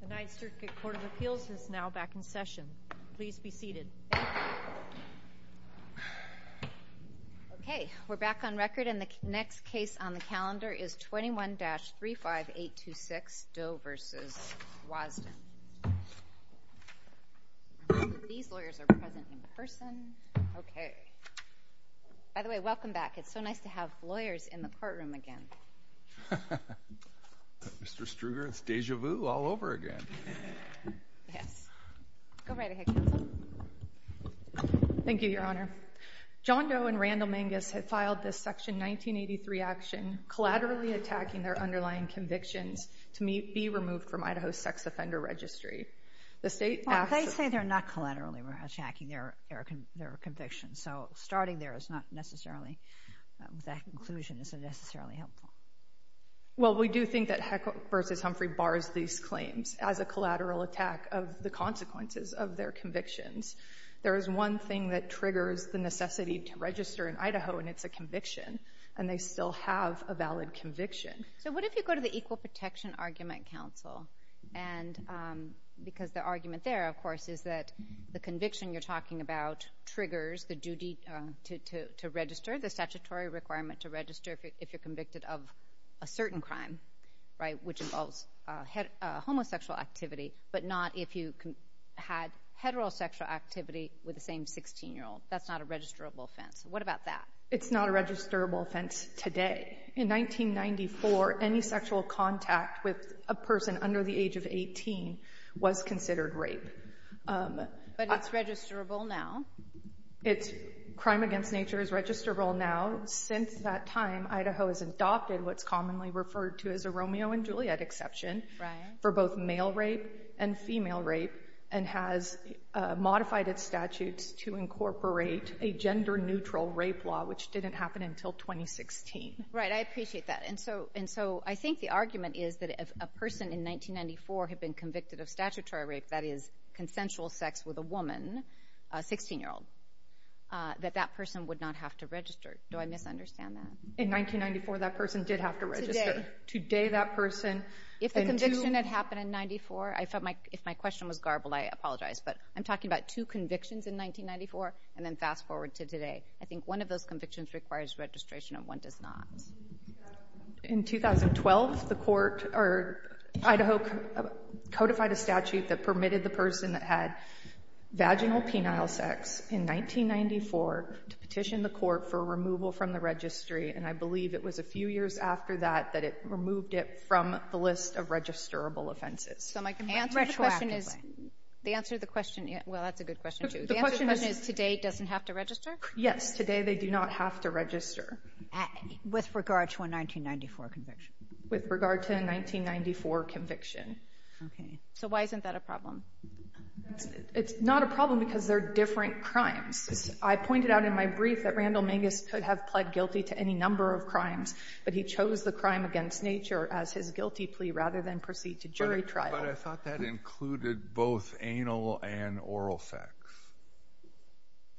The 9th Circuit Court of Appeals is now back in session. Please be seated. Okay, we're back on record and the next case on the calendar is 21-35826 Doe v. Wasden. These lawyers are present in person. Okay. By the way, welcome back. It's so nice to have lawyers in the courtroom again. Mr. Struger, it's deja vu all over again. Yes. Go right ahead, counsel. Thank you, Your Honor. John Doe and Randall Mangus have filed this Section 1983 action, collaterally attacking their underlying convictions to be removed from Idaho's sex offender registry. The state asks... Well, they say they're not collaterally attacking their convictions. So starting there is not necessarily... That conclusion isn't necessarily helpful. Well, we do think that Heckler v. Humphrey bars these claims as a collateral attack of the consequences of their convictions. There is one thing that triggers the necessity to register in Idaho, and it's a conviction, and they still have a valid conviction. So what if you go to the Equal Protection Argument Council? Because the argument there, of course, is that the conviction you're talking about triggers the duty to register, the statutory requirement to register, if you're convicted of a certain crime, right, which involves homosexual activity, but not if you had heterosexual activity with the same 16-year-old. That's not a registrable offense. What about that? It's not a registrable offense today. In 1994, any sexual contact with a person under the age of 18 was considered rape. But it's registrable now. Crime against nature is registrable now. Since that time, Idaho has adopted what's commonly referred to as a Romeo and Juliet exception for both male rape and female rape and has modified its statutes to incorporate a gender-neutral rape law, which didn't happen until 2016. Right, I appreciate that. And so I think the argument is that if a person in 1994 had been convicted of statutory rape, that is, consensual sex with a woman, a 16-year-old, that that person would not have to register. Do I misunderstand that? In 1994, that person did have to register. Today. Today, that person. If the conviction had happened in 94, if my question was garbled, I apologize, but I'm talking about two convictions in 1994 and then fast forward to today. I think one of those convictions requires registration and one does not. In 2012, the Court or Idaho codified a statute that permitted the person that had vaginal penile sex in 1994 to petition the Court for removal from the registry, and I believe it was a few years after that that it removed it from the list of registrable offenses. So my question is the answer to the question is today doesn't have to register? Yes. Today they do not have to register. With regard to a 1994 conviction. With regard to a 1994 conviction. Okay. So why isn't that a problem? It's not a problem because they're different crimes. I pointed out in my brief that Randall Mangus could have pled guilty to any number of crimes, but he chose the crime against nature as his guilty plea rather than proceed to jury trial. But I thought that included both anal and oral sex.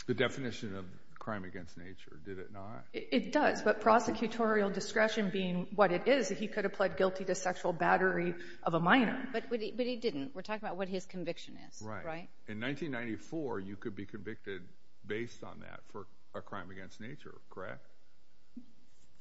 The definition of crime against nature, did it not? It does, but prosecutorial discretion being what it is, he could have pled guilty to sexual battery of a minor. But he didn't. We're talking about what his conviction is. Right. In 1994, you could be convicted based on that for a crime against nature, correct?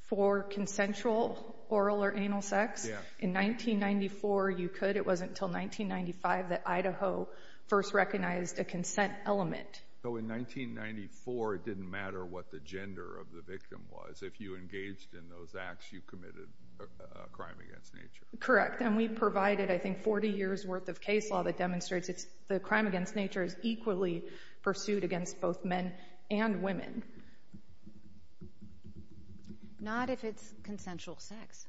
For consensual oral or anal sex? Yes. In 1994, you could. It wasn't until 1995 that Idaho first recognized a consent element. So in 1994, it didn't matter what the gender of the victim was. If you engaged in those acts, you committed a crime against nature. Correct. And we provided, I think, 40 years' worth of case law that demonstrates the crime against nature is equally pursued against both men and women. Not if it's consensual sex.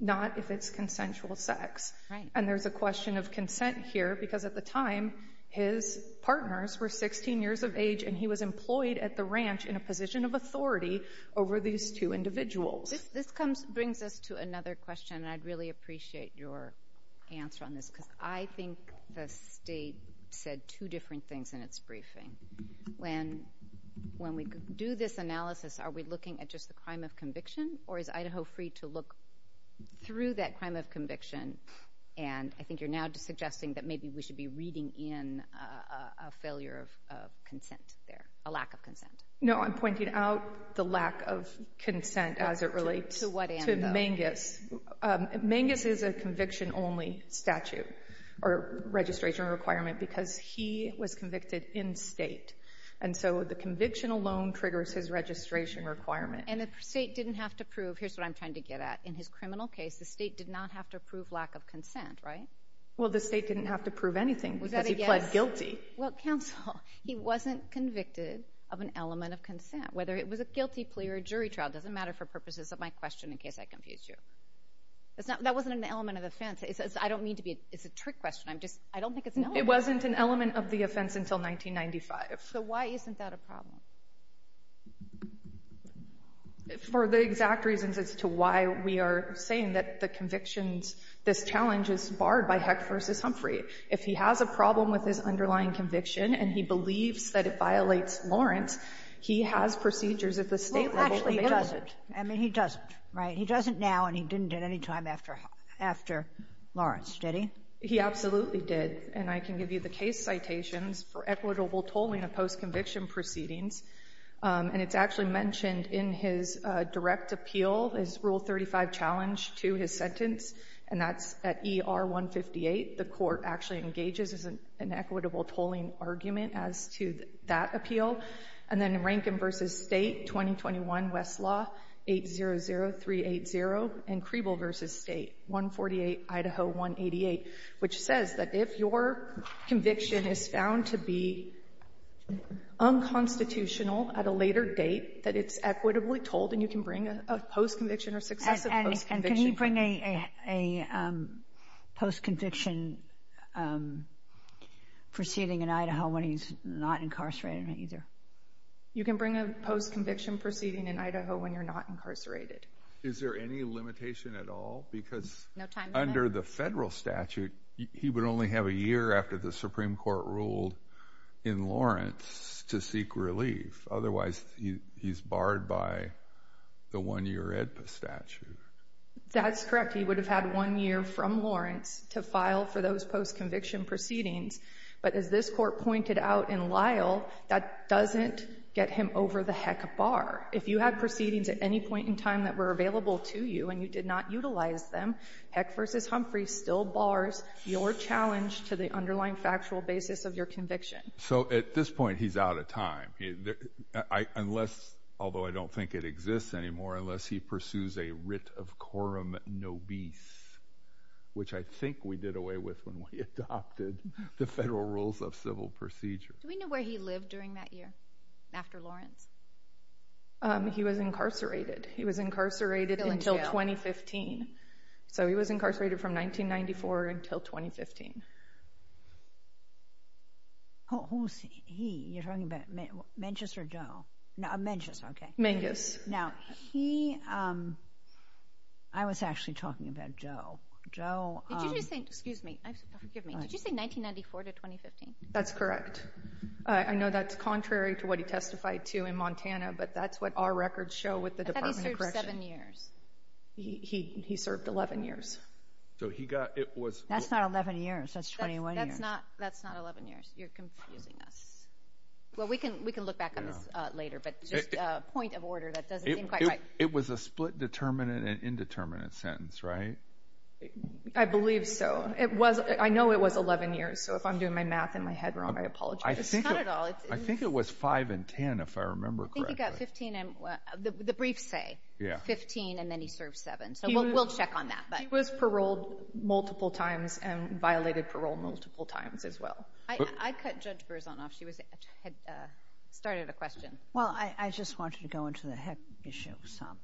Not if it's consensual sex. Right. And there's a question of consent here because at the time, his partners were 16 years of age and he was employed at the ranch in a position of authority over these two individuals. This brings us to another question, and I'd really appreciate your answer on this because I think the state said two different things in its briefing. When we do this analysis, are we looking at just the crime of conviction or is Idaho free to look through that crime of conviction? And I think you're now suggesting that maybe we should be reading in a failure of consent there, a lack of consent. No, I'm pointing out the lack of consent as it relates to Mangus. Mangus is a conviction-only statute or registration requirement because he was convicted in state. And so the conviction alone triggers his registration requirement. And the state didn't have to prove. Here's what I'm trying to get at. In his criminal case, the state did not have to prove lack of consent, right? Well, the state didn't have to prove anything because he pled guilty. Well, counsel, he wasn't convicted of an element of consent, whether it was a guilty plea or a jury trial. It doesn't matter for purposes of my question in case I confuse you. That wasn't an element of the offense. It's a trick question. I don't think it's an element. It wasn't an element of the offense until 1995. So why isn't that a problem? For the exact reasons as to why we are saying that the convictions, this challenge is barred by Heck v. Humphrey. If he has a problem with his underlying conviction and he believes that it violates Lawrence, he has procedures at the state level. Well, actually, he doesn't. I mean, he doesn't, right? He doesn't now, and he didn't at any time after Lawrence, did he? He absolutely did. And I can give you the case citations for equitable tolling of post-conviction proceedings. And it's actually mentioned in his direct appeal, his Rule 35 challenge to his sentence, and that's at ER 158. The court actually engages in an equitable tolling argument as to that appeal. And then Rankin v. State, 2021, Westlaw, 800380, and Creeble v. State, 148, Idaho 188, which says that if your conviction is found to be unconstitutional at a later date, that it's equitably tolled and you can bring a post-conviction or successive post-conviction. And can he bring a post-conviction proceeding in Idaho when he's not incarcerated either? You can bring a post-conviction proceeding in Idaho when you're not incarcerated. Is there any limitation at all? No time limit. But under the federal statute, he would only have a year after the Supreme Court ruled in Lawrence to seek relief. Otherwise, he's barred by the one-year AEDPA statute. That's correct. He would have had one year from Lawrence to file for those post-conviction proceedings. But as this court pointed out in Lyle, that doesn't get him over the heck bar. If you had proceedings at any point in time that were available to you and you did not utilize them, Heck v. Humphrey still bars your challenge to the underlying factual basis of your conviction. So at this point, he's out of time. Unless, although I don't think it exists anymore, unless he pursues a writ of quorum nobis, which I think we did away with when we adopted the federal rules of civil procedure. Do we know where he lived during that year after Lawrence? He was incarcerated. He was incarcerated until 2015. So he was incarcerated from 1994 until 2015. Who's he? You're talking about Menchus or Doe? No, Menchus, okay. Menchus. Now, he, I was actually talking about Doe. Did you just say, excuse me, forgive me, did you say 1994 to 2015? That's correct. I know that's contrary to what he testified to in Montana, but that's what our records show with the Department of Corrections. How did he serve seven years? He served 11 years. So he got, it was... That's not 11 years. That's 21 years. That's not 11 years. You're confusing us. Well, we can look back on this later, but just a point of order that doesn't seem quite right. It was a split determinant and indeterminate sentence, right? I believe so. I know it was 11 years, so if I'm doing my math in my head wrong, I apologize. It's not at all. I think it was 5 and 10 if I remember correctly. No, he got 15 and, the briefs say 15, and then he served seven. So we'll check on that. He was paroled multiple times and violated parole multiple times as well. I cut Judge Burzanoff. She had started a question. Well, I just wanted to go into the heck issue of some.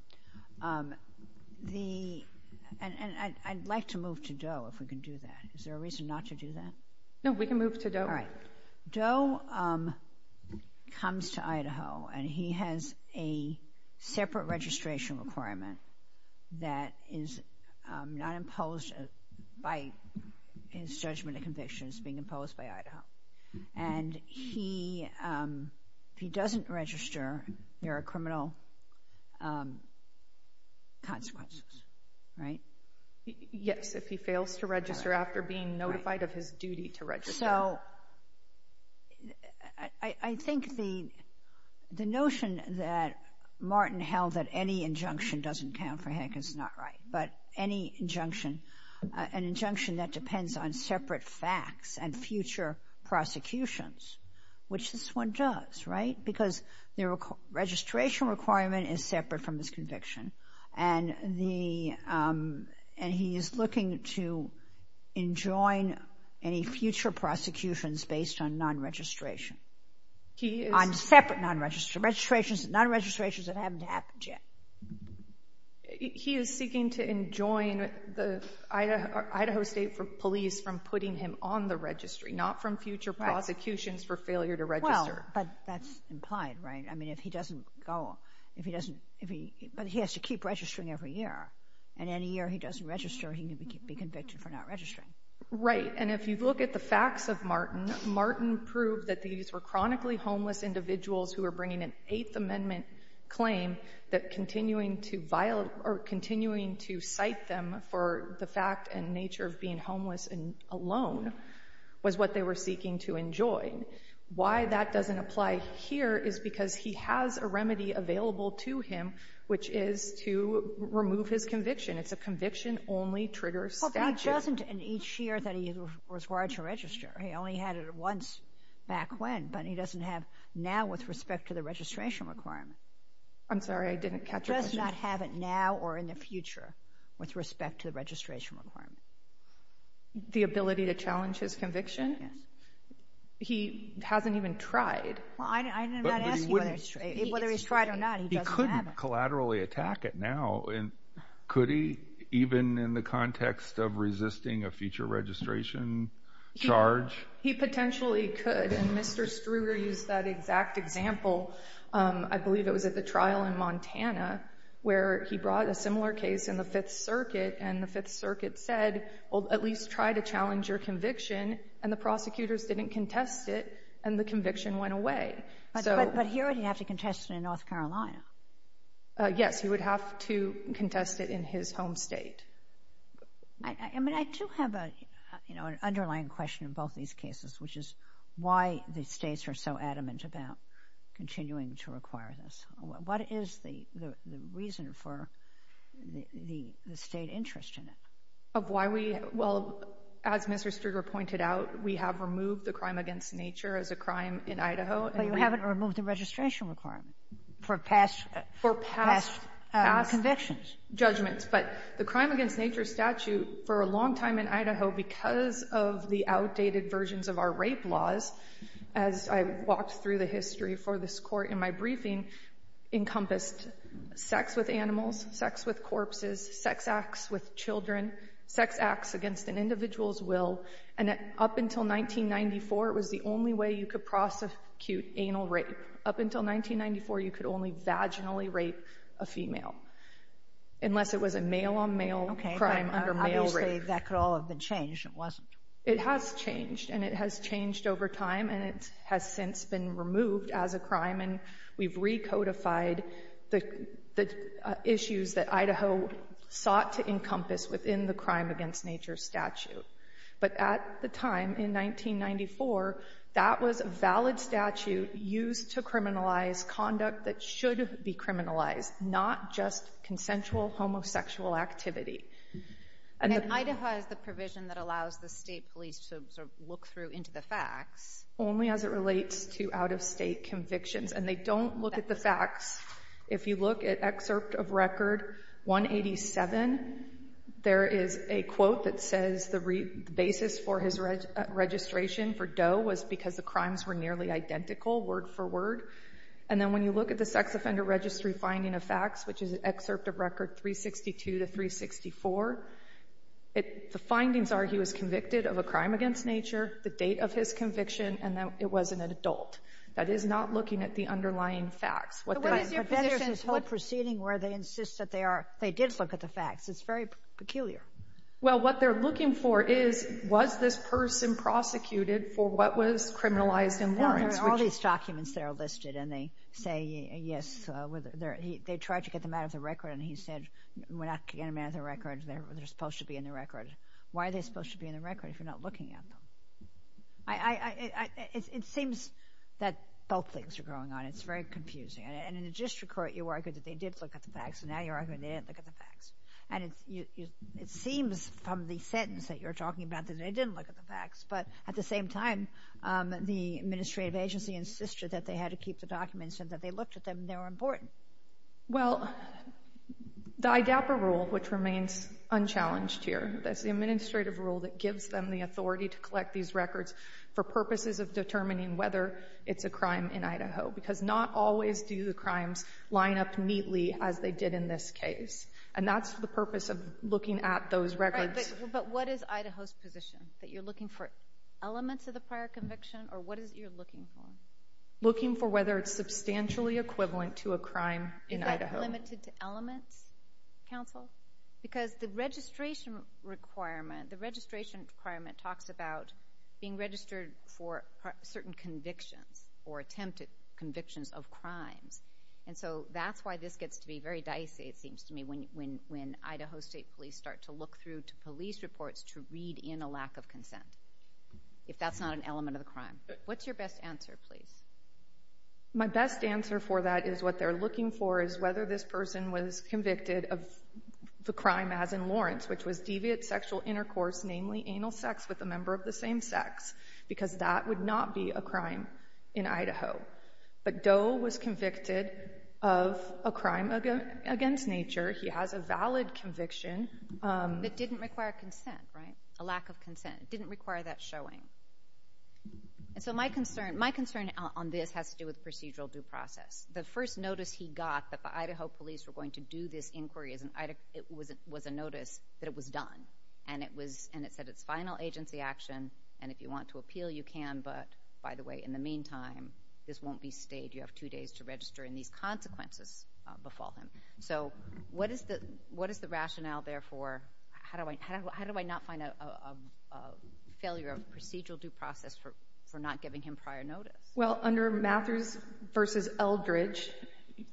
And I'd like to move to Doe, if we can do that. Is there a reason not to do that? No, we can move to Doe. All right. Doe comes to Idaho, and he has a separate registration requirement that is not imposed by his judgment of conviction. It's being imposed by Idaho. And if he doesn't register, there are criminal consequences, right? Yes, if he fails to register after being notified of his duty to register. So I think the notion that Martin held that any injunction doesn't count for heck is not right. But any injunction, an injunction that depends on separate facts and future prosecutions, which this one does, right, because the registration requirement is separate from his conviction. And he is looking to enjoin any future prosecutions based on non-registration, on separate non-registrations that haven't happened yet. He is seeking to enjoin Idaho State Police from putting him on the registry, not from future prosecutions for failure to register. Well, but that's implied, right? I mean, if he doesn't go, if he doesn't, but he has to keep registering every year. And any year he doesn't register, he can be convicted for not registering. Right. And if you look at the facts of Martin, Martin proved that these were chronically homeless individuals who were bringing an Eighth Amendment claim that continuing to cite them for the fact and nature of being homeless and alone was what they were seeking to enjoin. Why that doesn't apply here is because he has a remedy available to him, which is to remove his conviction. It's a conviction-only trigger statute. Well, but he doesn't in each year that he was required to register. He only had it once back when, but he doesn't have now with respect to the registration requirement. I'm sorry. I didn't catch your question. He does not have it now or in the future with respect to the registration requirement. The ability to challenge his conviction? Yes. He hasn't even tried. I did not ask you whether he's tried or not. He couldn't collaterally attack it now. Could he, even in the context of resisting a future registration charge? He potentially could, and Mr. Struger used that exact example. I believe it was at the trial in Montana where he brought a similar case in the Fifth Circuit, and the Fifth Circuit said, well, at least try to challenge your conviction, and the prosecutors didn't contest it, and the conviction went away. But he already had to contest it in North Carolina. Yes. He would have to contest it in his home state. I mean, I do have an underlying question in both these cases, which is why the states are so adamant about continuing to require this. What is the reason for the state interest in it? Of why we — well, as Mr. Struger pointed out, we have removed the crime against nature as a crime in Idaho. But you haven't removed the registration requirement for past convictions. For past judgments. But the crime against nature statute, for a long time in Idaho, because of the outdated versions of our rape laws, as I walked through the history for this court in my briefing, encompassed sex with animals, sex with corpses, sex acts with children, sex acts against an individual's will. And up until 1994, it was the only way you could prosecute anal rape. Up until 1994, you could only vaginally rape a female, unless it was a male-on-male crime under male rape. Okay, but obviously that could all have been changed, and it wasn't. It has changed, and it has changed over time, and it has since been removed as a crime, and we've recodified the issues that Idaho sought to encompass within the crime against nature statute. But at the time, in 1994, that was a valid statute used to criminalize conduct that should be criminalized, not just consensual homosexual activity. And Idaho has the provision that allows the state police to sort of look through into the facts. Only as it relates to out-of-state convictions, and they don't look at the facts. If you look at Excerpt of Record 187, there is a quote that says the basis for his registration for Doe was because the crimes were nearly identical, word for word. The findings are he was convicted of a crime against nature, the date of his conviction, and that it wasn't an adult. That is not looking at the underlying facts. What is your position? But then there's this whole proceeding where they insist that they are they did look at the facts. It's very peculiar. Well, what they're looking for is, was this person prosecuted for what was criminalized in Lawrence? Well, there are all these documents that are listed, and they say, yes, they tried to get them out of the record, and he said, we're not going to get them out of the record. They're supposed to be in the record. Why are they supposed to be in the record if you're not looking at them? It seems that both things are going on. It's very confusing. And in the district court, you argued that they did look at the facts, and now you're arguing they didn't look at the facts. And it seems from the sentence that you're talking about that they didn't look at the facts. But at the same time, the administrative agency insisted that they had to keep the documents and that they looked at them, and they were important. Well, the IDAPA rule, which remains unchallenged here, that's the administrative rule that gives them the authority to collect these records for purposes of determining whether it's a crime in Idaho, because not always do the crimes line up neatly as they did in this case. And that's the purpose of looking at those records. But what is Idaho's position, that you're looking for elements of the prior conviction, or what is it you're looking for? Looking for whether it's substantially equivalent to a crime in Idaho. Is that limited to elements, counsel? Because the registration requirement talks about being registered for certain convictions or attempted convictions of crimes. And so that's why this gets to be very dicey, it seems to me, when Idaho State Police start to look through to police reports to read in a lack of consent, if that's not an element of the crime. What's your best answer, please? My best answer for that is what they're looking for is whether this person was convicted of the crime as in Lawrence, which was deviant sexual intercourse, namely anal sex with a member of the same sex, because that would not be a crime in Idaho. But Doe was convicted of a crime against nature. He has a valid conviction. But didn't require consent, right? A lack of consent. It didn't require that showing. And so my concern on this has to do with procedural due process. The first notice he got that the Idaho police were going to do this inquiry was a notice that it was done. And it said it's final agency action, and if you want to appeal, you can. But, by the way, in the meantime, this won't be stayed. You have two days to register, and these consequences befall him. So what is the rationale therefore? How do I not find a failure of procedural due process for not giving him prior notice? Well, under Matthews v. Eldridge,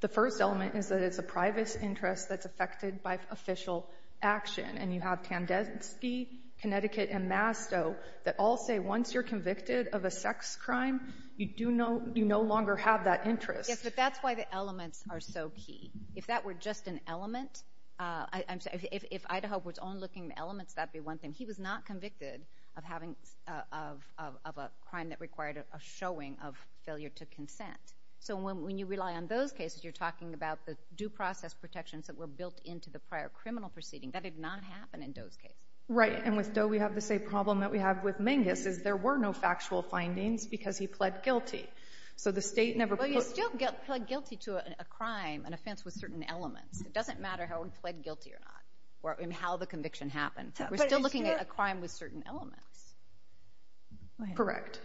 the first element is that it's a private interest that's affected by official action. And you have Tandinsky, Connecticut, and Masto that all say once you're convicted of a sex crime, you no longer have that interest. Yes, but that's why the elements are so key. If that were just an element, if Idaho was only looking at elements, that would be one thing. He was not convicted of a crime that required a showing of failure to consent. So when you rely on those cases, you're talking about the due process protections that were built into the prior criminal proceeding. That did not happen in Doe's case. Right, and with Doe, we have the same problem that we have with Mingus, is there were no factual findings because he pled guilty. So the state never put... We still pled guilty to a crime, an offense with certain elements. It doesn't matter how we pled guilty or not or how the conviction happened. We're still looking at a crime with certain elements. Correct.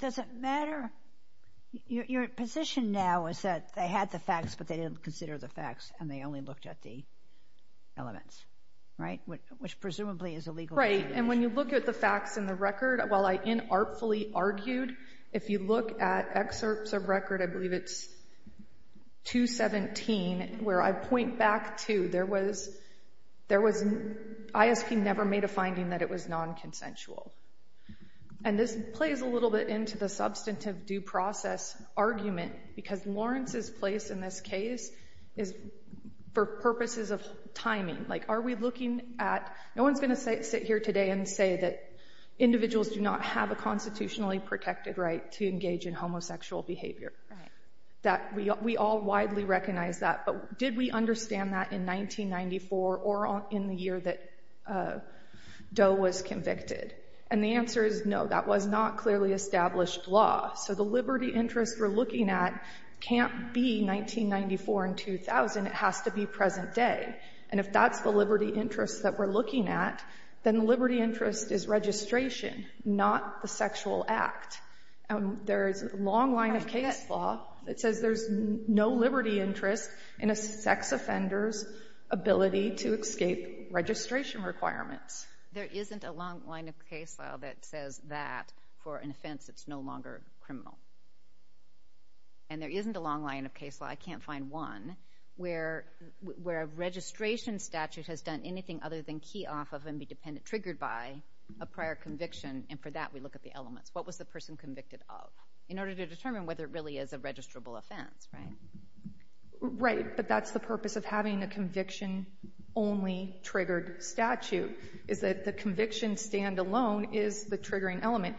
Does it matter? Your position now is that they had the facts, but they didn't consider the facts, and they only looked at the elements, right, which presumably is illegal. Right, and when you look at the facts in the record, while I inartfully argued, if you look at excerpts of record, I believe it's 217, where I point back to there was... ISP never made a finding that it was nonconsensual. And this plays a little bit into the substantive due process argument because Lawrence's place in this case is for purposes of timing. Like, are we looking at... If we sit here today and say that individuals do not have a constitutionally protected right to engage in homosexual behavior, that we all widely recognize that, but did we understand that in 1994 or in the year that Doe was convicted? And the answer is no. That was not clearly established law. So the liberty interest we're looking at can't be 1994 and 2000. It has to be present day. And if that's the liberty interest that we're looking at, then the liberty interest is registration, not the sexual act. There is a long line of case law that says there's no liberty interest in a sex offender's ability to escape registration requirements. There isn't a long line of case law that says that for an offense that's no longer criminal. And there isn't a long line of case law, I can't find one, where a registration statute has done anything other than key off of and be triggered by a prior conviction, and for that we look at the elements. What was the person convicted of? In order to determine whether it really is a registrable offense, right? Right, but that's the purpose of having a conviction-only triggered statute, is that the conviction stand alone is the triggering element.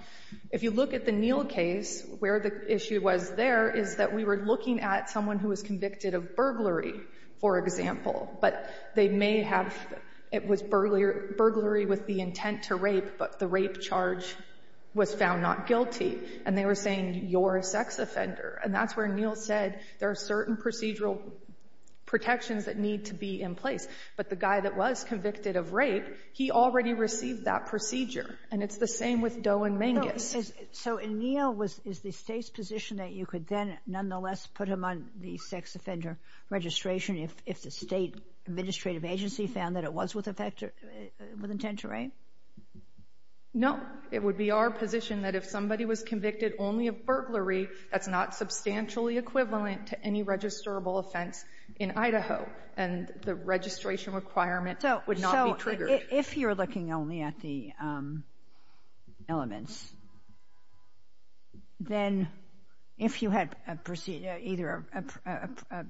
If you look at the Neal case, where the issue was there is that we were looking at someone who was convicted of burglary, for example. But they may have — it was burglary with the intent to rape, but the rape charge was found not guilty. And they were saying, you're a sex offender. And that's where Neal said there are certain procedural protections that need to be in place. But the guy that was convicted of rape, he already received that procedure. And it's the same with Doe and Mangus. So in Neal, is the State's position that you could then nonetheless put him on the sex offender registration if the State administrative agency found that it was with intent to rape? No. It would be our position that if somebody was convicted only of burglary, that's not substantially equivalent to any registrable offense in Idaho. And the registration requirement would not be triggered. If you're looking only at the elements, then if you had either a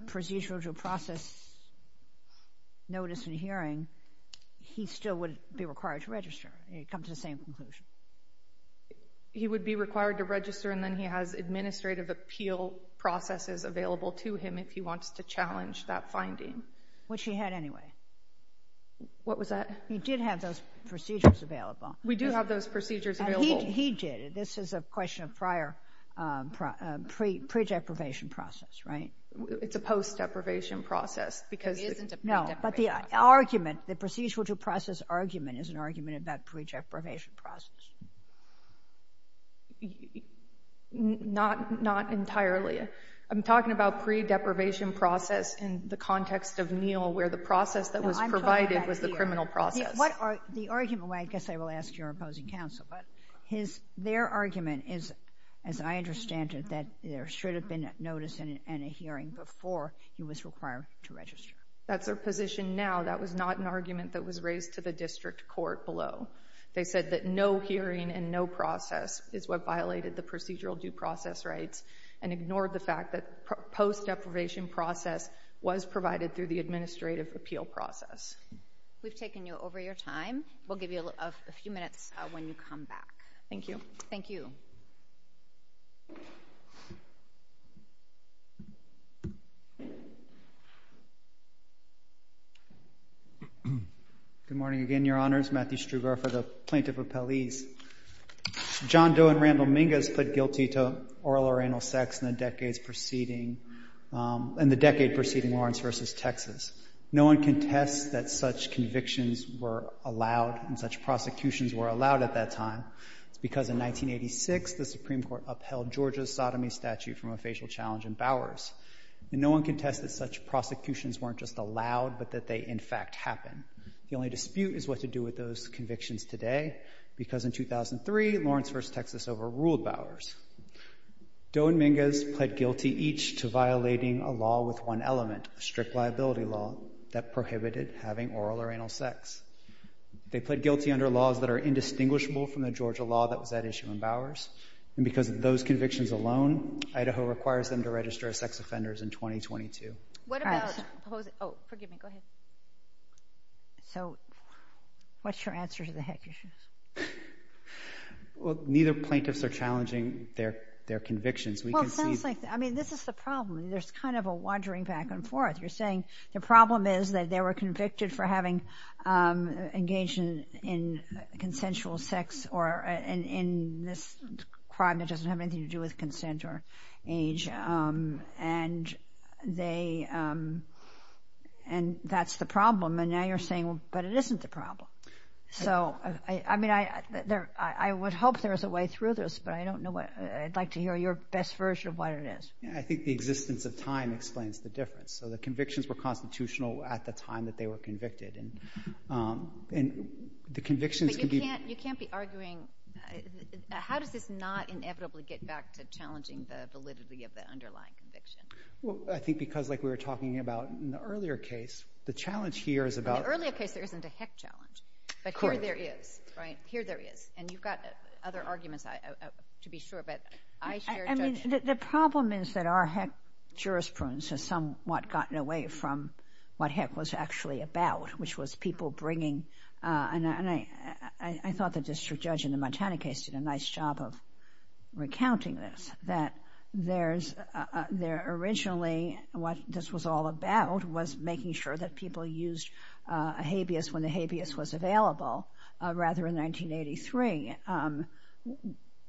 procedural due process notice in hearing, he still would be required to register. It would come to the same conclusion. He would be required to register, and then he has administrative appeal processes available to him if he wants to challenge that finding. Which he had anyway. What was that? He did have those procedures available. We do have those procedures available. He did. This is a question of prior pre-deprivation process, right? It's a post-deprivation process. It isn't a pre-deprivation process. No. But the argument, the procedural due process argument is an argument about pre-deprivation process. Not entirely. I'm talking about pre-deprivation process in the context of Neal, where the process that was provided was the criminal process. The argument, I guess I will ask your opposing counsel, but their argument is, as I understand it, that there should have been a notice and a hearing before he was required to register. That's their position now. That was not an argument that was raised to the district court below. They said that no hearing and no process is what violated the procedural due process rights and ignored the fact that post-deprivation process was provided through the administrative appeal process. We've taken you over your time. We'll give you a few minutes when you come back. Thank you. Thank you. Good morning again, Your Honors. Matthew Struber for the Plaintiff Appellees. John Doe and Randall Mingus put guilty to oral or anal sex in the decade preceding Lawrence v. Texas. No one contests that such convictions were allowed and such prosecutions were allowed at that time. It's because in 1986 the Supreme Court upheld Georgia's sodomy statute from a facial challenge in Bowers. And no one contests that such prosecutions weren't just allowed but that they, in fact, happened. The only dispute is what to do with those convictions today because in 2003, Lawrence v. Texas overruled Bowers. Doe and Mingus pled guilty each to violating a law with one element, a strict liability law that prohibited having oral or anal sex. They pled guilty under laws that are indistinguishable from the Georgia law that was at issue in Bowers. And because of those convictions alone, Idaho requires them to register as sex offenders in 2022. So what's your answer to the heck issues? Well, neither plaintiffs are challenging their convictions. Well, it sounds like, I mean, this is the problem. There's kind of a wandering back and forth. You're saying the problem is that they were convicted for having engaged in consensual sex or in this crime that doesn't have anything to do with consent or age. And that's the problem. And now you're saying, but it isn't the problem. So, I mean, I would hope there's a way through this, but I don't know. I'd like to hear your best version of what it is. I think the existence of time explains the difference. So the convictions were constitutional at the time that they were convicted. And the convictions can be. But you can't be arguing. How does this not inevitably get back to challenging the validity of the underlying conviction? Well, I think because, like we were talking about in the earlier case, the challenge here is about. In the earlier case, there isn't a heck challenge. But here there is. Right? Here there is. And you've got other arguments to be sure. But I share. I mean, the problem is that our heck jurisprudence has somewhat gotten away from what heck was actually about, which was people bringing. And I thought the district judge in the Montana case did a nice job of recounting this, that there's originally what this was all about was making sure that people used a habeas when the habeas was available, rather in 1983.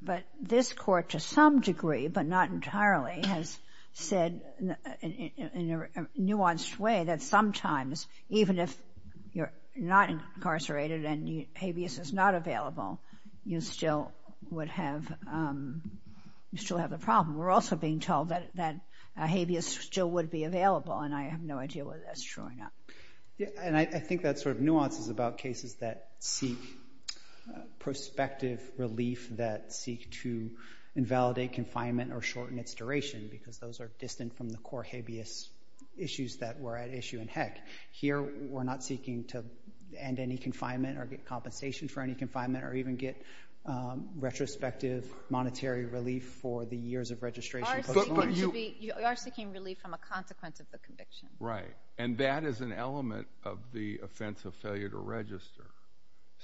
But this court, to some degree, but not entirely, has said in a nuanced way that sometimes, even if you're not incarcerated and habeas is not available, you still would have the problem. We're also being told that a habeas still would be available. And I have no idea whether that's true or not. And I think that sort of nuance is about cases that seek prospective relief, that seek to invalidate confinement or shorten its duration because those are issues in heck. Here we're not seeking to end any confinement or get compensation for any confinement or even get retrospective monetary relief for the years of registration. You are seeking relief from a consequence of the conviction. Right. And that is an element of the offense of failure to register.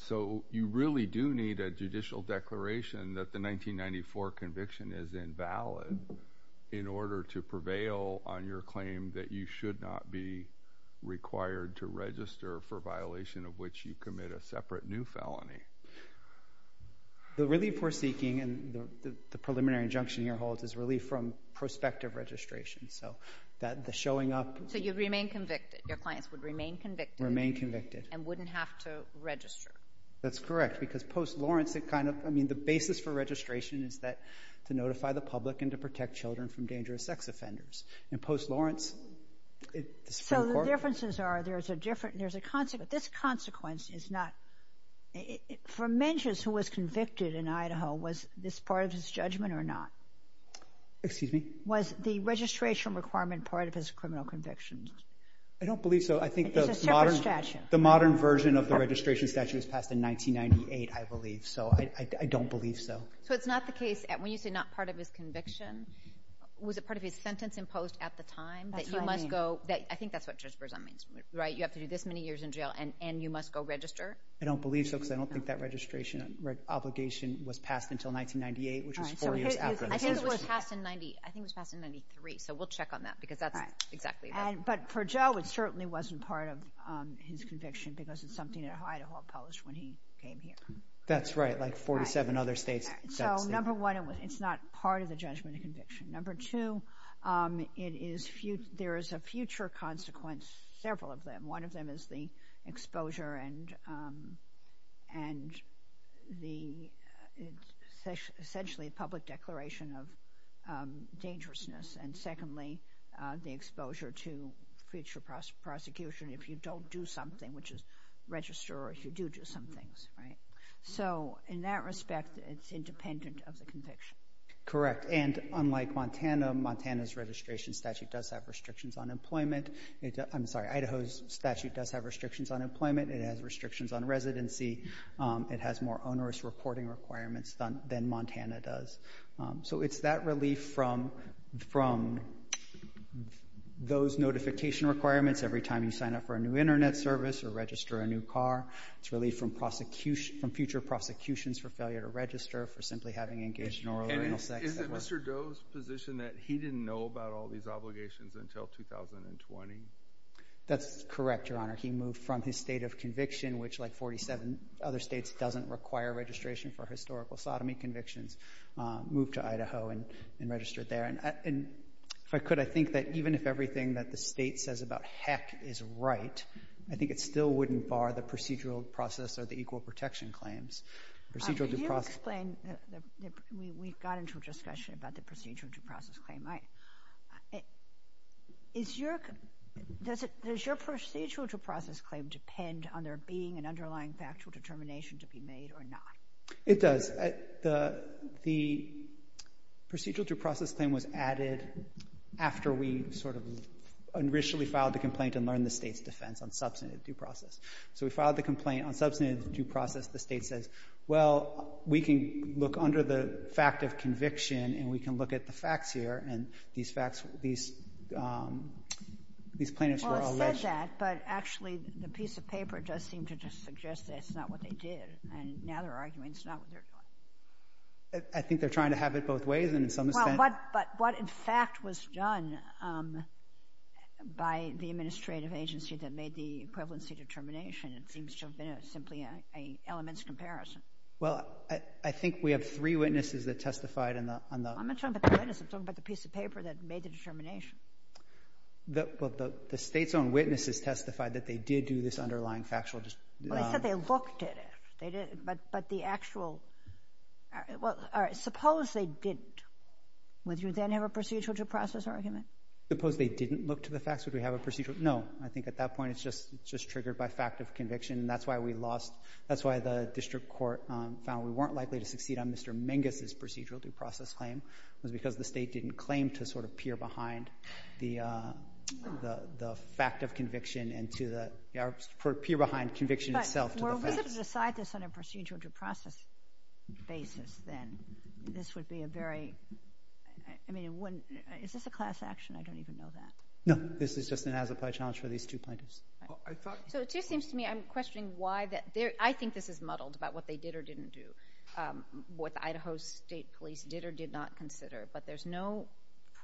So you really do need a judicial declaration that the 1994 conviction is valid in order to prevail on your claim that you should not be required to register for violation of which you commit a separate new felony. The relief we're seeking, and the preliminary injunction here holds, is relief from prospective registration. So the showing up. So you'd remain convicted. Your clients would remain convicted. Remain convicted. And wouldn't have to register. That's correct. Because post Lawrence, it kind of, I mean, the basis for registration is that to notify the public and to protect children from dangerous sex offenders. And post Lawrence, the Supreme Court. So the differences are there's a different, there's a consequence. This consequence is not, for Mentius who was convicted in Idaho, was this part of his judgment or not? Excuse me? Was the registration requirement part of his criminal convictions? I don't believe so. I think the modern version of the registration statute was passed in 1998, I believe. So I don't believe so. So it's not the case, when you say not part of his conviction, was it part of his sentence imposed at the time? That's what I mean. That you must go, I think that's what Judge Berzon means, right? You have to do this many years in jail and you must go register? I don't believe so because I don't think that registration obligation was passed until 1998, which is four years after. I think it was passed in, I think it was passed in 93, so we'll check on that because that's exactly right. But for Joe, it certainly wasn't part of his conviction because it's something that Idaho published when he came here. That's right, like 47 other states. So number one, it's not part of the judgment or conviction. Number two, there is a future consequence, several of them. One of them is the exposure and essentially a public declaration of dangerousness. And secondly, the exposure to future prosecution if you don't do something, which is register or if you do do some things. So in that respect, it's independent of the conviction. Correct, and unlike Montana, Montana's registration statute does have restrictions on employment. I'm sorry, Idaho's statute does have restrictions on employment. It has restrictions on residency. It has more onerous reporting requirements than Montana does. So it's that relief from those notification requirements every time you sign up for a new Internet service or register a new car. It's relief from future prosecutions for failure to register for simply having engaged in oral or anal sex. And is it Mr. Doe's position that he didn't know about all these obligations until 2020? That's correct, Your Honor. He moved from his state of conviction, which like 47 other states doesn't require registration for historical sodomy convictions, moved to Idaho and registered there. And if I could, I think that even if everything that the state says about heck is right, I think it still wouldn't bar the procedural process or the equal protection claims. Can you explain? We got into a discussion about the procedural due process claim. Does your procedural due process claim depend on there being an underlying factual determination to be made or not? It does. The procedural due process claim was added after we sort of originally filed the complaint and learned the state's defense on substantive due process. So we filed the complaint on substantive due process. The state says, well, we can look under the fact of conviction and we can look at the facts here. And these facts, these plaintiffs were all alleged. Well, it said that, but actually the piece of paper does seem to just suggest that's not what they did. And now they're arguing it's not what they're doing. I think they're trying to have it both ways in some sense. But what, in fact, was done by the administrative agency that made the equivalency determination, it seems to have been simply an elements comparison. Well, I think we have three witnesses that testified on the – I'm not talking about the witnesses. I'm talking about the piece of paper that made the determination. Well, the state's own witnesses testified that they did do this underlying factual – Well, they said they looked at it. But the actual – well, suppose they didn't. Would you then have a procedural due process argument? Suppose they didn't look to the facts? Would we have a procedural – no. I think at that point it's just triggered by fact of conviction, and that's why we lost – that's why the district court found we weren't likely to succeed on Mr. Mingus's procedural due process claim. It was because the state didn't claim to sort of peer behind the fact of conviction and to the – or peer behind conviction itself to the facts. But were we to decide this on a procedural due process basis, then this would be a very – I mean, is this a class action? I don't even know that. No. This is just an as-applied challenge for these two plaintiffs. I thought – So it just seems to me I'm questioning why that – I think this is muddled about what they did or didn't do, what the Idaho State Police did or did not consider. But there's no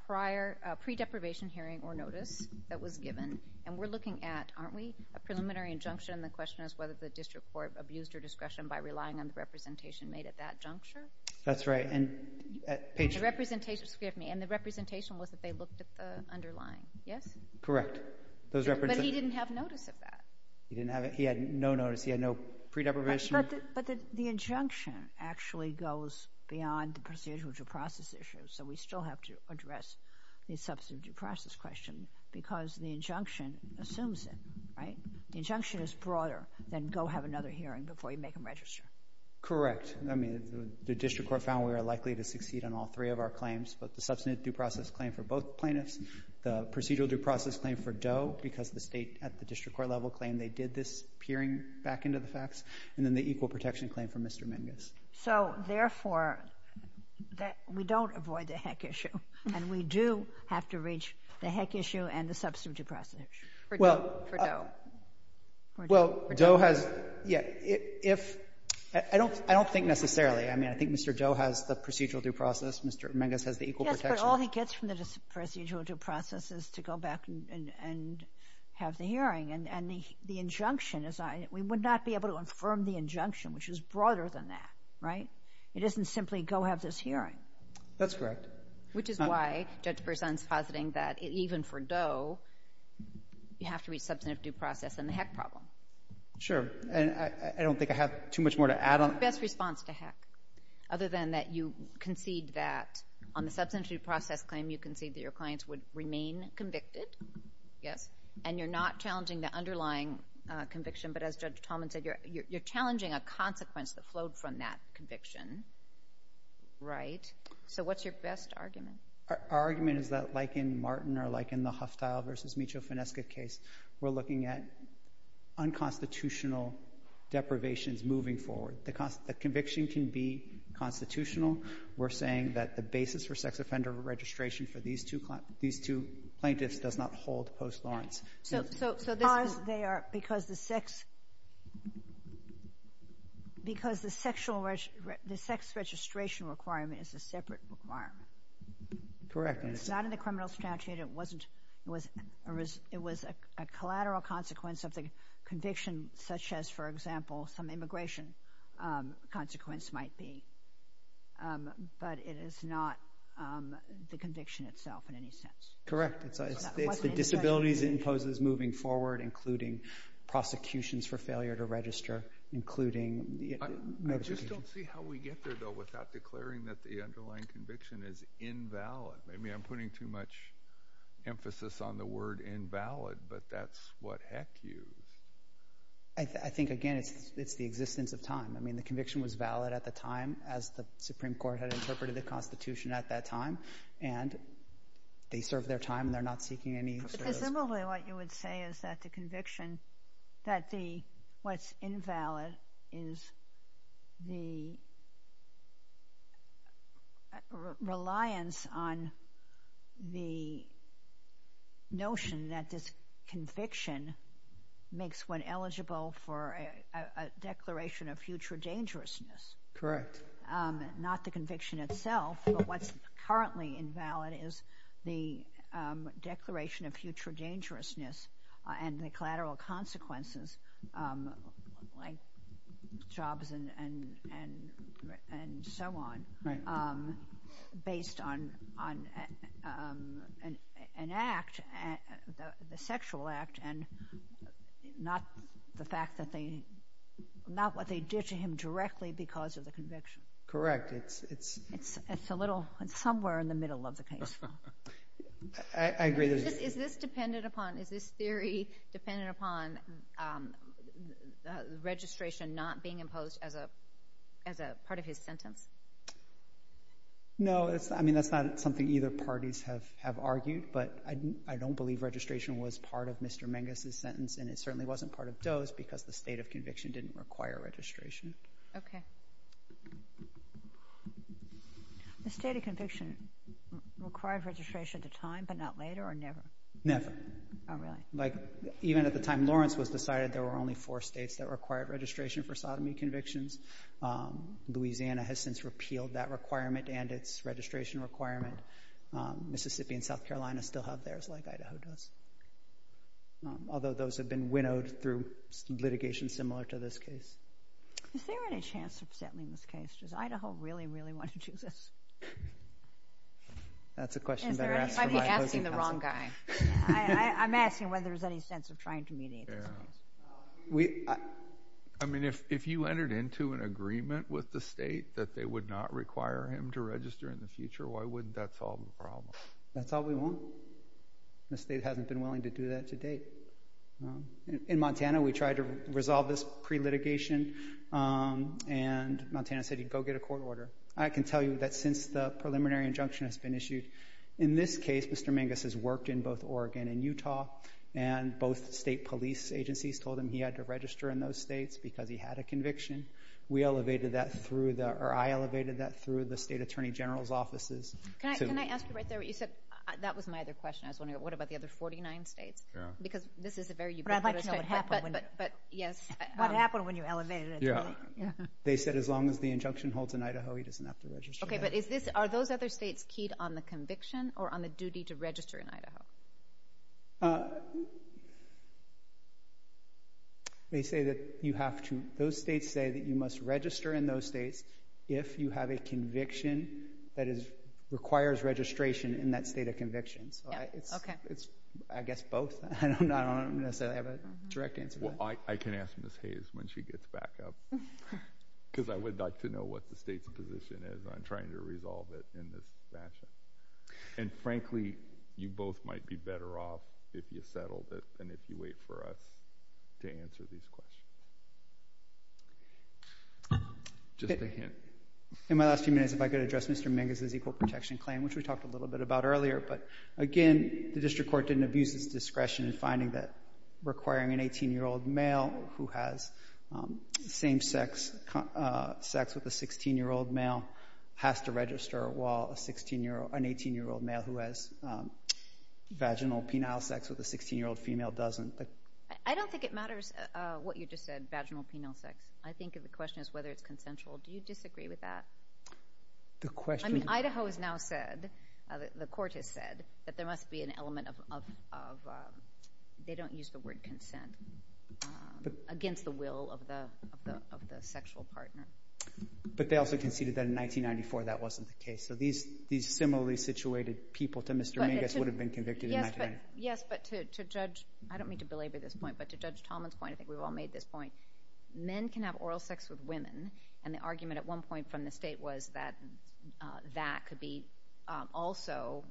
prior pre-deprivation hearing or notice that was given, and we're looking at, aren't we, a preliminary injunction, and the question is whether the district court abused her discretion by relying on the representation made at that juncture? That's right, and – The representation – forgive me – and the representation was that they looked at the underlying, yes? Correct. But he didn't have notice of that. He didn't have – he had no notice. He had no pre-deprivation. But the injunction actually goes beyond the procedural due process issue, so we still have to address the substantive due process question because the injunction assumes it, right? The injunction is broader than go have another hearing before you make them register. Correct. I mean, the district court found we were likely to succeed on all three of our claims, but the substantive due process claim for both plaintiffs, the procedural due process claim for Doe because the State at the district court level claimed they did this peering back into the facts, and then the equal protection claim for Mr. Mingus. So, therefore, we don't avoid the heck issue, and we do have to reach the heck issue and the substantive due process issue. Well – For Doe. Well, Doe has – yeah. If – I don't think necessarily. I mean, I think Mr. Doe has the procedural due process. Mr. Mingus has the equal protection. Yes, but all he gets from the procedural due process is to go back and have the hearing. And the injunction is – we would not be able to affirm the injunction, which is broader than that, right? It isn't simply go have this hearing. That's correct. Which is why Judge Berzon is positing that even for Doe, you have to reach substantive due process and the heck problem. Sure. And I don't think I have too much more to add on. What's the best response to heck, other than that you concede that on the substantive due process claim you concede that your clients would remain convicted? Yes. And you're not challenging the underlying conviction, but as Judge Tallman said, you're challenging a consequence that flowed from that conviction, right? So what's your best argument? Our argument is that like in Martin or like in the Hufftile v. Michio Finesca case, we're looking at unconstitutional deprivations moving forward. The conviction can be constitutional. We're saying that the basis for sex offender registration for these two plaintiffs does not hold post Lawrence. Because the sex registration requirement is a separate requirement. Correct. It's not in the criminal statute. It was a collateral consequence of the conviction, such as, for example, some immigration consequence might be. But it is not the conviction itself in any sense. Correct. It's the disabilities it imposes moving forward, including prosecutions for failure to register, including medication. I just don't see how we get there, though, without declaring that the underlying conviction is invalid. Maybe I'm putting too much emphasis on the word invalid, but that's what heck used. I think, again, it's the existence of time. I mean, the conviction was valid at the time, as the Supreme Court had interpreted the Constitution at that time, and they served their time and they're not seeking any. But presumably what you would say is that the conviction, that what's invalid is the reliance on the notion that this conviction makes one eligible for a declaration of future dangerousness. Correct. Not the conviction itself, but what's currently invalid is the declaration of future dangerousness and the collateral consequences, like jobs and so on, based on an act, the sexual act, and not what they did to him directly because of the conviction. Correct. It's somewhere in the middle of the case. I agree. Is this theory dependent upon registration not being imposed as a part of his sentence? No. I mean, that's not something either parties have argued, but I don't believe registration was part of Mr. Menges' sentence, and it certainly wasn't part of Doe's because the state of conviction didn't require registration. Okay. The state of conviction required registration at the time but not later or never? Never. Oh, really? Like, even at the time Lawrence was decided, there were only four states that required registration for sodomy convictions. Louisiana has since repealed that requirement and its registration requirement. Mississippi and South Carolina still have theirs like Idaho does, although those have been winnowed through litigation similar to this case. Is there any chance of settling this case? Does Idaho really, really want to do this? That's a question better asked by opposing counsel. I'm asking whether there's any sense of trying to mediate this case. I mean, if you entered into an agreement with the state that they would not require him to register in the future, why wouldn't that solve the problem? That's all we want. The state hasn't been willing to do that to date. In Montana, we tried to resolve this pre-litigation, and Montana said he'd go get a court order. I can tell you that since the preliminary injunction has been issued, in this case Mr. Menges has worked in both Oregon and Utah, and both state police agencies told him he had to register in those states because he had a conviction. I elevated that through the state attorney general's offices. Can I ask you right there what you said? That was my other question. I was wondering, what about the other 49 states? Because this is a very ubiquitous state. What happened when you elevated it? They said as long as the injunction holds in Idaho, he doesn't have to register. Are those other states keyed on the conviction or on the duty to register in Idaho? Those states say that you must register in those states if you have a conviction that requires registration in that state of conviction. I guess both. I don't necessarily have a direct answer to that. I can ask Ms. Hayes when she gets back up because I would like to know what the state's position is on trying to resolve it in this fashion. Frankly, you both might be better off if you settled it than if you wait for us to answer these questions. Just a hint. In my last few minutes, if I could address Mr. Mingus's equal protection claim, which we talked a little bit about earlier. Again, the district court didn't abuse its discretion in finding that requiring an 18-year-old male who has same-sex sex with a 16-year-old male has to register while an 18-year-old male who has vaginal penile sex with a 16-year-old female doesn't. I don't think it matters what you just said, vaginal penile sex. I think the question is whether it's consensual. Do you disagree with that? Idaho has now said, the court has said, that there must be an element of, they don't use the word consent, against the will of the sexual partner. But they also conceded that in 1994 that wasn't the case. So these similarly situated people to Mr. Mingus would have been convicted in 1990. Yes, but to Judge, I don't mean to belabor this point, but to Judge Tomlin's point, I think we've all made this point, men can have oral sex with women, and the argument at one point from the state was that that could be also,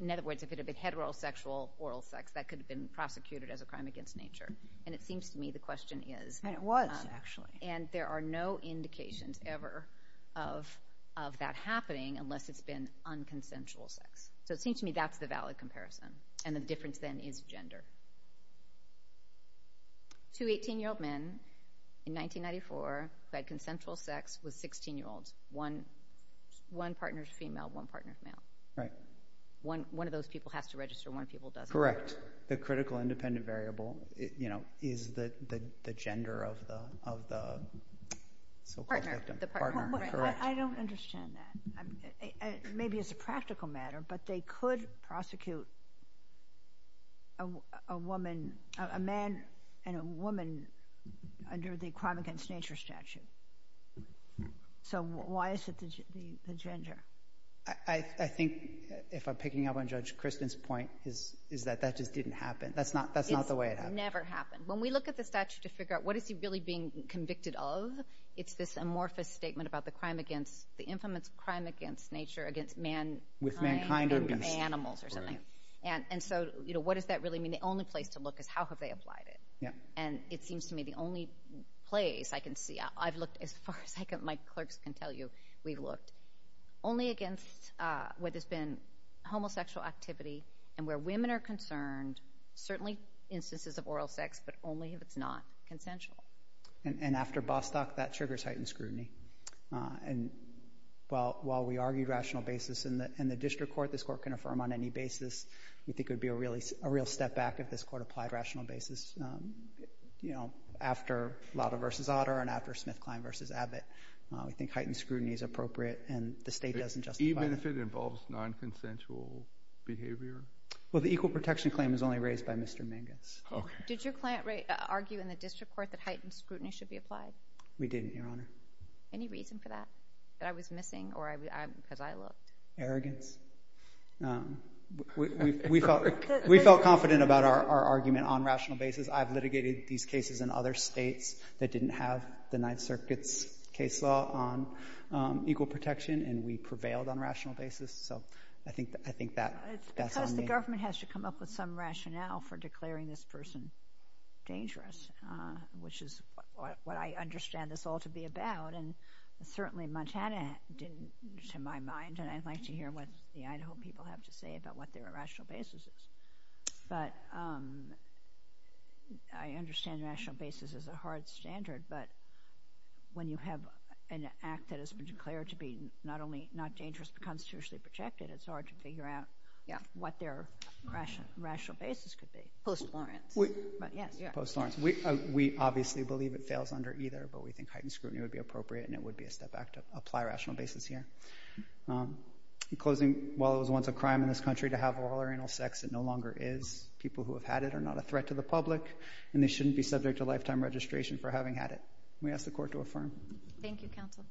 in other words, if it had been heterosexual oral sex, that could have been prosecuted as a crime against nature. And it seems to me the question is. And it was, actually. And there are no indications ever of that happening unless it's been unconsensual sex. So it seems to me that's the valid comparison. And the difference then is gender. Two 18-year-old men in 1994 who had consensual sex with 16-year-olds. One partner's female, one partner's male. Right. One of those people has to register, one of those people doesn't. Correct. So the critical independent variable is the gender of the so-called victim. Partner. Partner. Correct. I don't understand that. Maybe it's a practical matter, but they could prosecute a man and a woman under the crime against nature statute. So why is it the gender? I think, if I'm picking up on Judge Kristen's point, is that that just didn't happen. That's not the way it happened. It's never happened. When we look at the statute to figure out what is he really being convicted of, it's this amorphous statement about the crime against, the infamous crime against nature, against mankind and animals or something. And so what does that really mean? The only place to look is how have they applied it. And it seems to me the only place I can see, I've looked as far as my clerks can tell you we've looked, only against where there's been homosexual activity and where women are concerned, certainly instances of oral sex, but only if it's not consensual. And after Bostock, that triggers heightened scrutiny. And while we argue rational basis in the district court, this court can affirm on any basis. We think it would be a real step back if this court applied rational basis, you know, after Lauda v. Otter and after Smith-Klein v. Abbott. We think heightened scrutiny is appropriate and the state doesn't justify it. Even if it involves non-consensual behavior? Well, the equal protection claim is only raised by Mr. Mangus. Did your client argue in the district court that heightened scrutiny should be applied? We didn't, Your Honor. Any reason for that, that I was missing or because I looked? Arrogance. We felt confident about our argument on rational basis. I've litigated these cases in other states that didn't have the Ninth Circuit's case law on equal protection, and we prevailed on rational basis. So I think that's on me. It's because the government has to come up with some rationale for declaring this person dangerous, which is what I understand this all to be about. And certainly Montana didn't, to my mind, and I'd like to hear what the Idaho people have to say about what their rational basis is. But I understand rational basis is a hard standard, but when you have an act that has been declared to be not only not dangerous but constitutionally protected, it's hard to figure out what their rational basis could be. Post-Lawrence. Post-Lawrence. We obviously believe it fails under either, but we think heightened scrutiny would be appropriate and it would be a step back to apply rational basis here. In closing, while it was once a crime in this country to have oral or anal sex, it no longer is. People who have had it are not a threat to the public, and they shouldn't be subject to lifetime registration for having had it. We ask the Court to affirm. Thank you, Counsel.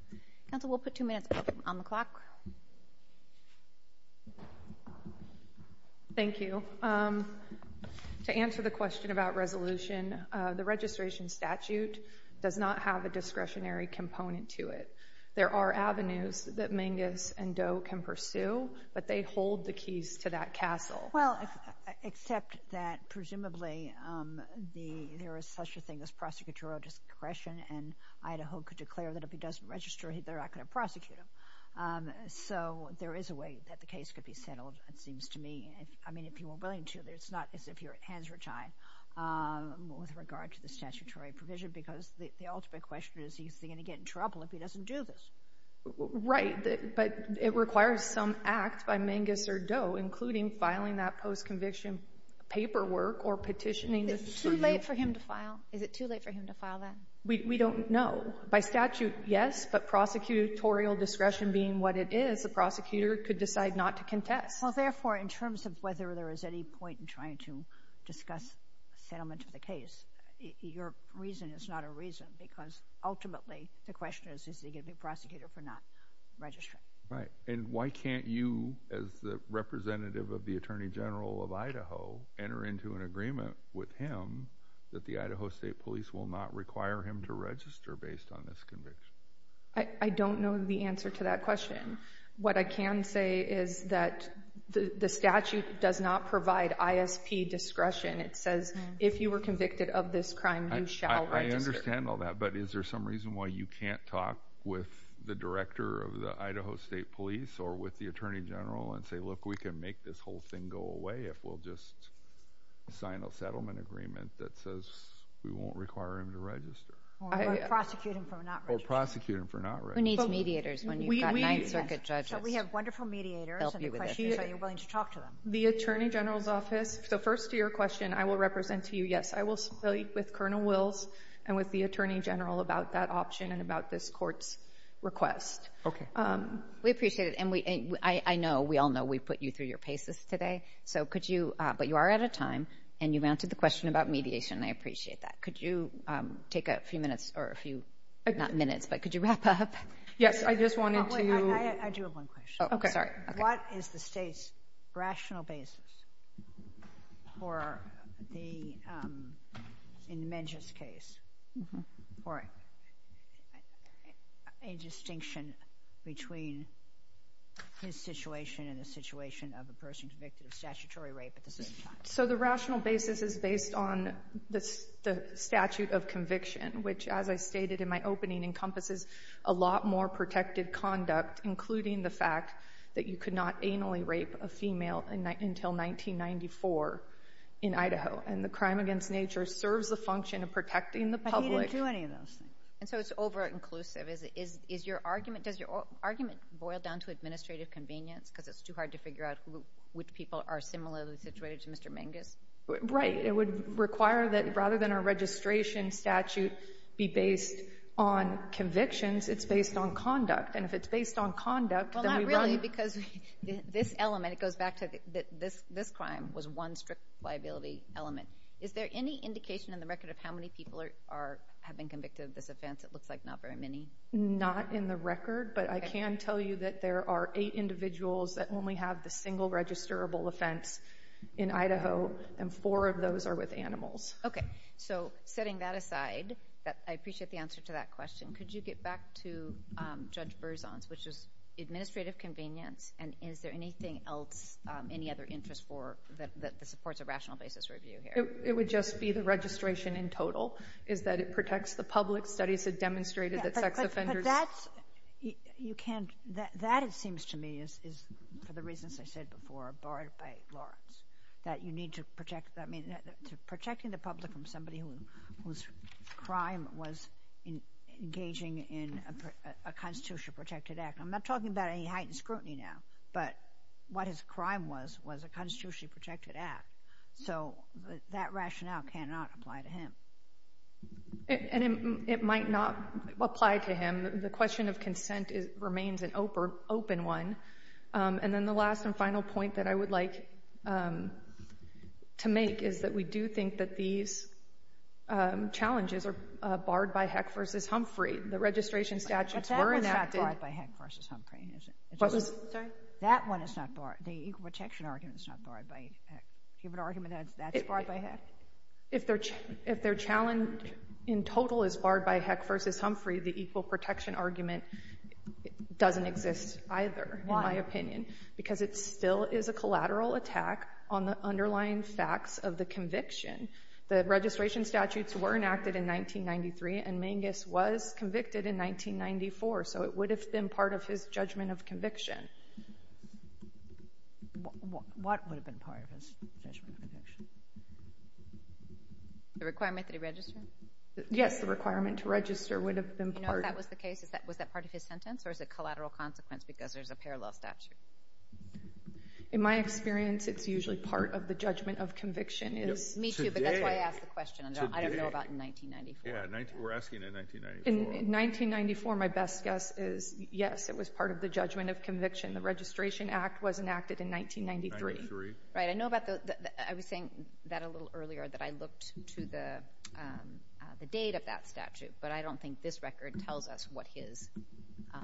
Counsel, we'll put two minutes on the clock. Thank you. To answer the question about resolution, the registration statute does not have a discretionary component to it. There are avenues that Mingus and Doe can pursue, but they hold the keys to that castle. Well, except that presumably there is such a thing as prosecutorial discretion and Idaho could declare that if he doesn't register, they're not going to prosecute him. So there is a way that the case could be settled, it seems to me. I mean, if you were willing to, it's not as if your hands were tied with regard to the statutory provision because the ultimate question is, is he going to get in trouble if he doesn't do this? Right. But it requires some act by Mingus or Doe, including filing that post-conviction paperwork or petitioning. Is it too late for him to file? Is it too late for him to file that? We don't know. By statute, yes, but prosecutorial discretion being what it is, the prosecutor could decide not to contest. Well, therefore, in terms of whether there is any point in trying to discuss settlement of the case, your reason is not a reason because ultimately the question is, is he going to be prosecuted for not registering? Right. And why can't you, as the representative of the Attorney General of Idaho, enter into an agreement with him that the Idaho State Police will not require him to register based on this conviction? I don't know the answer to that question. What I can say is that the statute does not provide ISP discretion. It says if you were convicted of this crime, you shall register. I understand all that, but is there some reason why you can't talk with the director of the Idaho State Police or with the Attorney General and say, look, we can make this whole thing go away if we'll just sign a settlement agreement that says we won't require him to register? Or prosecute him for not registering. Or prosecute him for not registering. Who needs mediators when you've got Ninth Circuit judges? So we have wonderful mediators, and the question is, are you willing to talk to them? The Attorney General's office. So first to your question, I will represent to you, yes, I will speak with Colonel Wills and with the Attorney General about that option and about this court's request. Okay. We appreciate it. And I know, we all know, we put you through your paces today. But you are out of time, and you've answered the question about mediation, and I appreciate that. Could you take a few minutes or a few, not minutes, but could you wrap up? Yes, I just wanted to. I do have one question. Okay. Sorry. Okay. What is the State's rational basis for the, in Menjia's case, for a distinction between his situation and the situation of a person convicted of statutory rape at the same time? So the rational basis is based on the statute of conviction, which, as I stated in my opening, encompasses a lot more protected conduct, including the fact that you could not anally rape a female until 1994 in Idaho. And the crime against nature serves the function of protecting the public. But he didn't do any of those things. And so it's over-inclusive. Does your argument boil down to administrative convenience, because it's too hard to figure out which people are similarly situated to Mr. Menjia's? Right. It would require that rather than a registration statute be based on convictions, it's based on conduct. And if it's based on conduct, then we run. Well, not really, because this element, it goes back to this crime, was one strict liability element. Is there any indication in the record of how many people have been convicted of this offense? It looks like not very many. Not in the record. But I can tell you that there are eight individuals that only have the single registerable offense in Idaho, and four of those are with animals. Okay. So setting that aside, I appreciate the answer to that question. Could you get back to Judge Berzon's, which is administrative convenience, and is there anything else, any other interest that supports a rational basis review here? It would just be the registration in total, is that it protects the public. Studies have demonstrated that sex offenders. You can't. That, it seems to me, is for the reasons I said before, borrowed by Lawrence, that you need to protect the public from somebody whose crime was engaging in a constitutionally protected act. I'm not talking about any heightened scrutiny now, but what his crime was was a constitutionally protected act. So that rationale cannot apply to him. And it might not apply to him. The question of consent remains an open one. And then the last and final point that I would like to make is that we do think that these challenges are barred by Heck v. Humphrey. The registration statutes were enacted. But that one's not barred by Heck v. Humphrey, is it? Sorry? That one is not barred. The equal protection argument is not barred by Heck. Do you have an argument that that's barred by Heck? If their challenge in total is barred by Heck v. Humphrey, the equal protection argument doesn't exist either, in my opinion. Why? Because it still is a collateral attack on the underlying facts of the conviction. The registration statutes were enacted in 1993, and Mangus was convicted in 1994. What would have been part of his judgment of conviction? The requirement to register? Yes, the requirement to register would have been part. You know if that was the case, was that part of his sentence, or is it collateral consequence because there's a parallel statute? In my experience, it's usually part of the judgment of conviction. Me too, but that's why I asked the question. I don't know about in 1994. We're asking in 1994. In 1994, my best guess is, yes, it was part of the judgment of conviction. The Registration Act was enacted in 1993. Right. I was saying that a little earlier, that I looked to the date of that statute, but I don't think this record tells us what his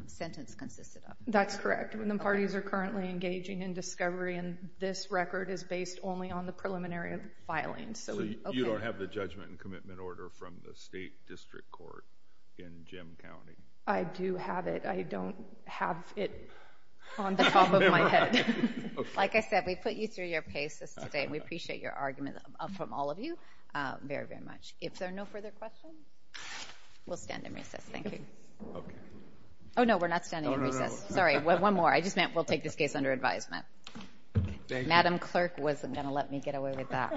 sentence consisted of. That's correct. The parties are currently engaging in discovery, and this record is based only on the preliminary filing. You don't have the judgment and commitment order from the state district court in Jim County? I do have it. I don't have it on the top of my head. Like I said, we put you through your paces today, and we appreciate your argument from all of you very, very much. If there are no further questions, we'll stand in recess. Thank you. Oh, no, we're not standing in recess. Sorry, one more. I just meant we'll take this case under advisement. Madam Clerk wasn't going to let me get away with that one.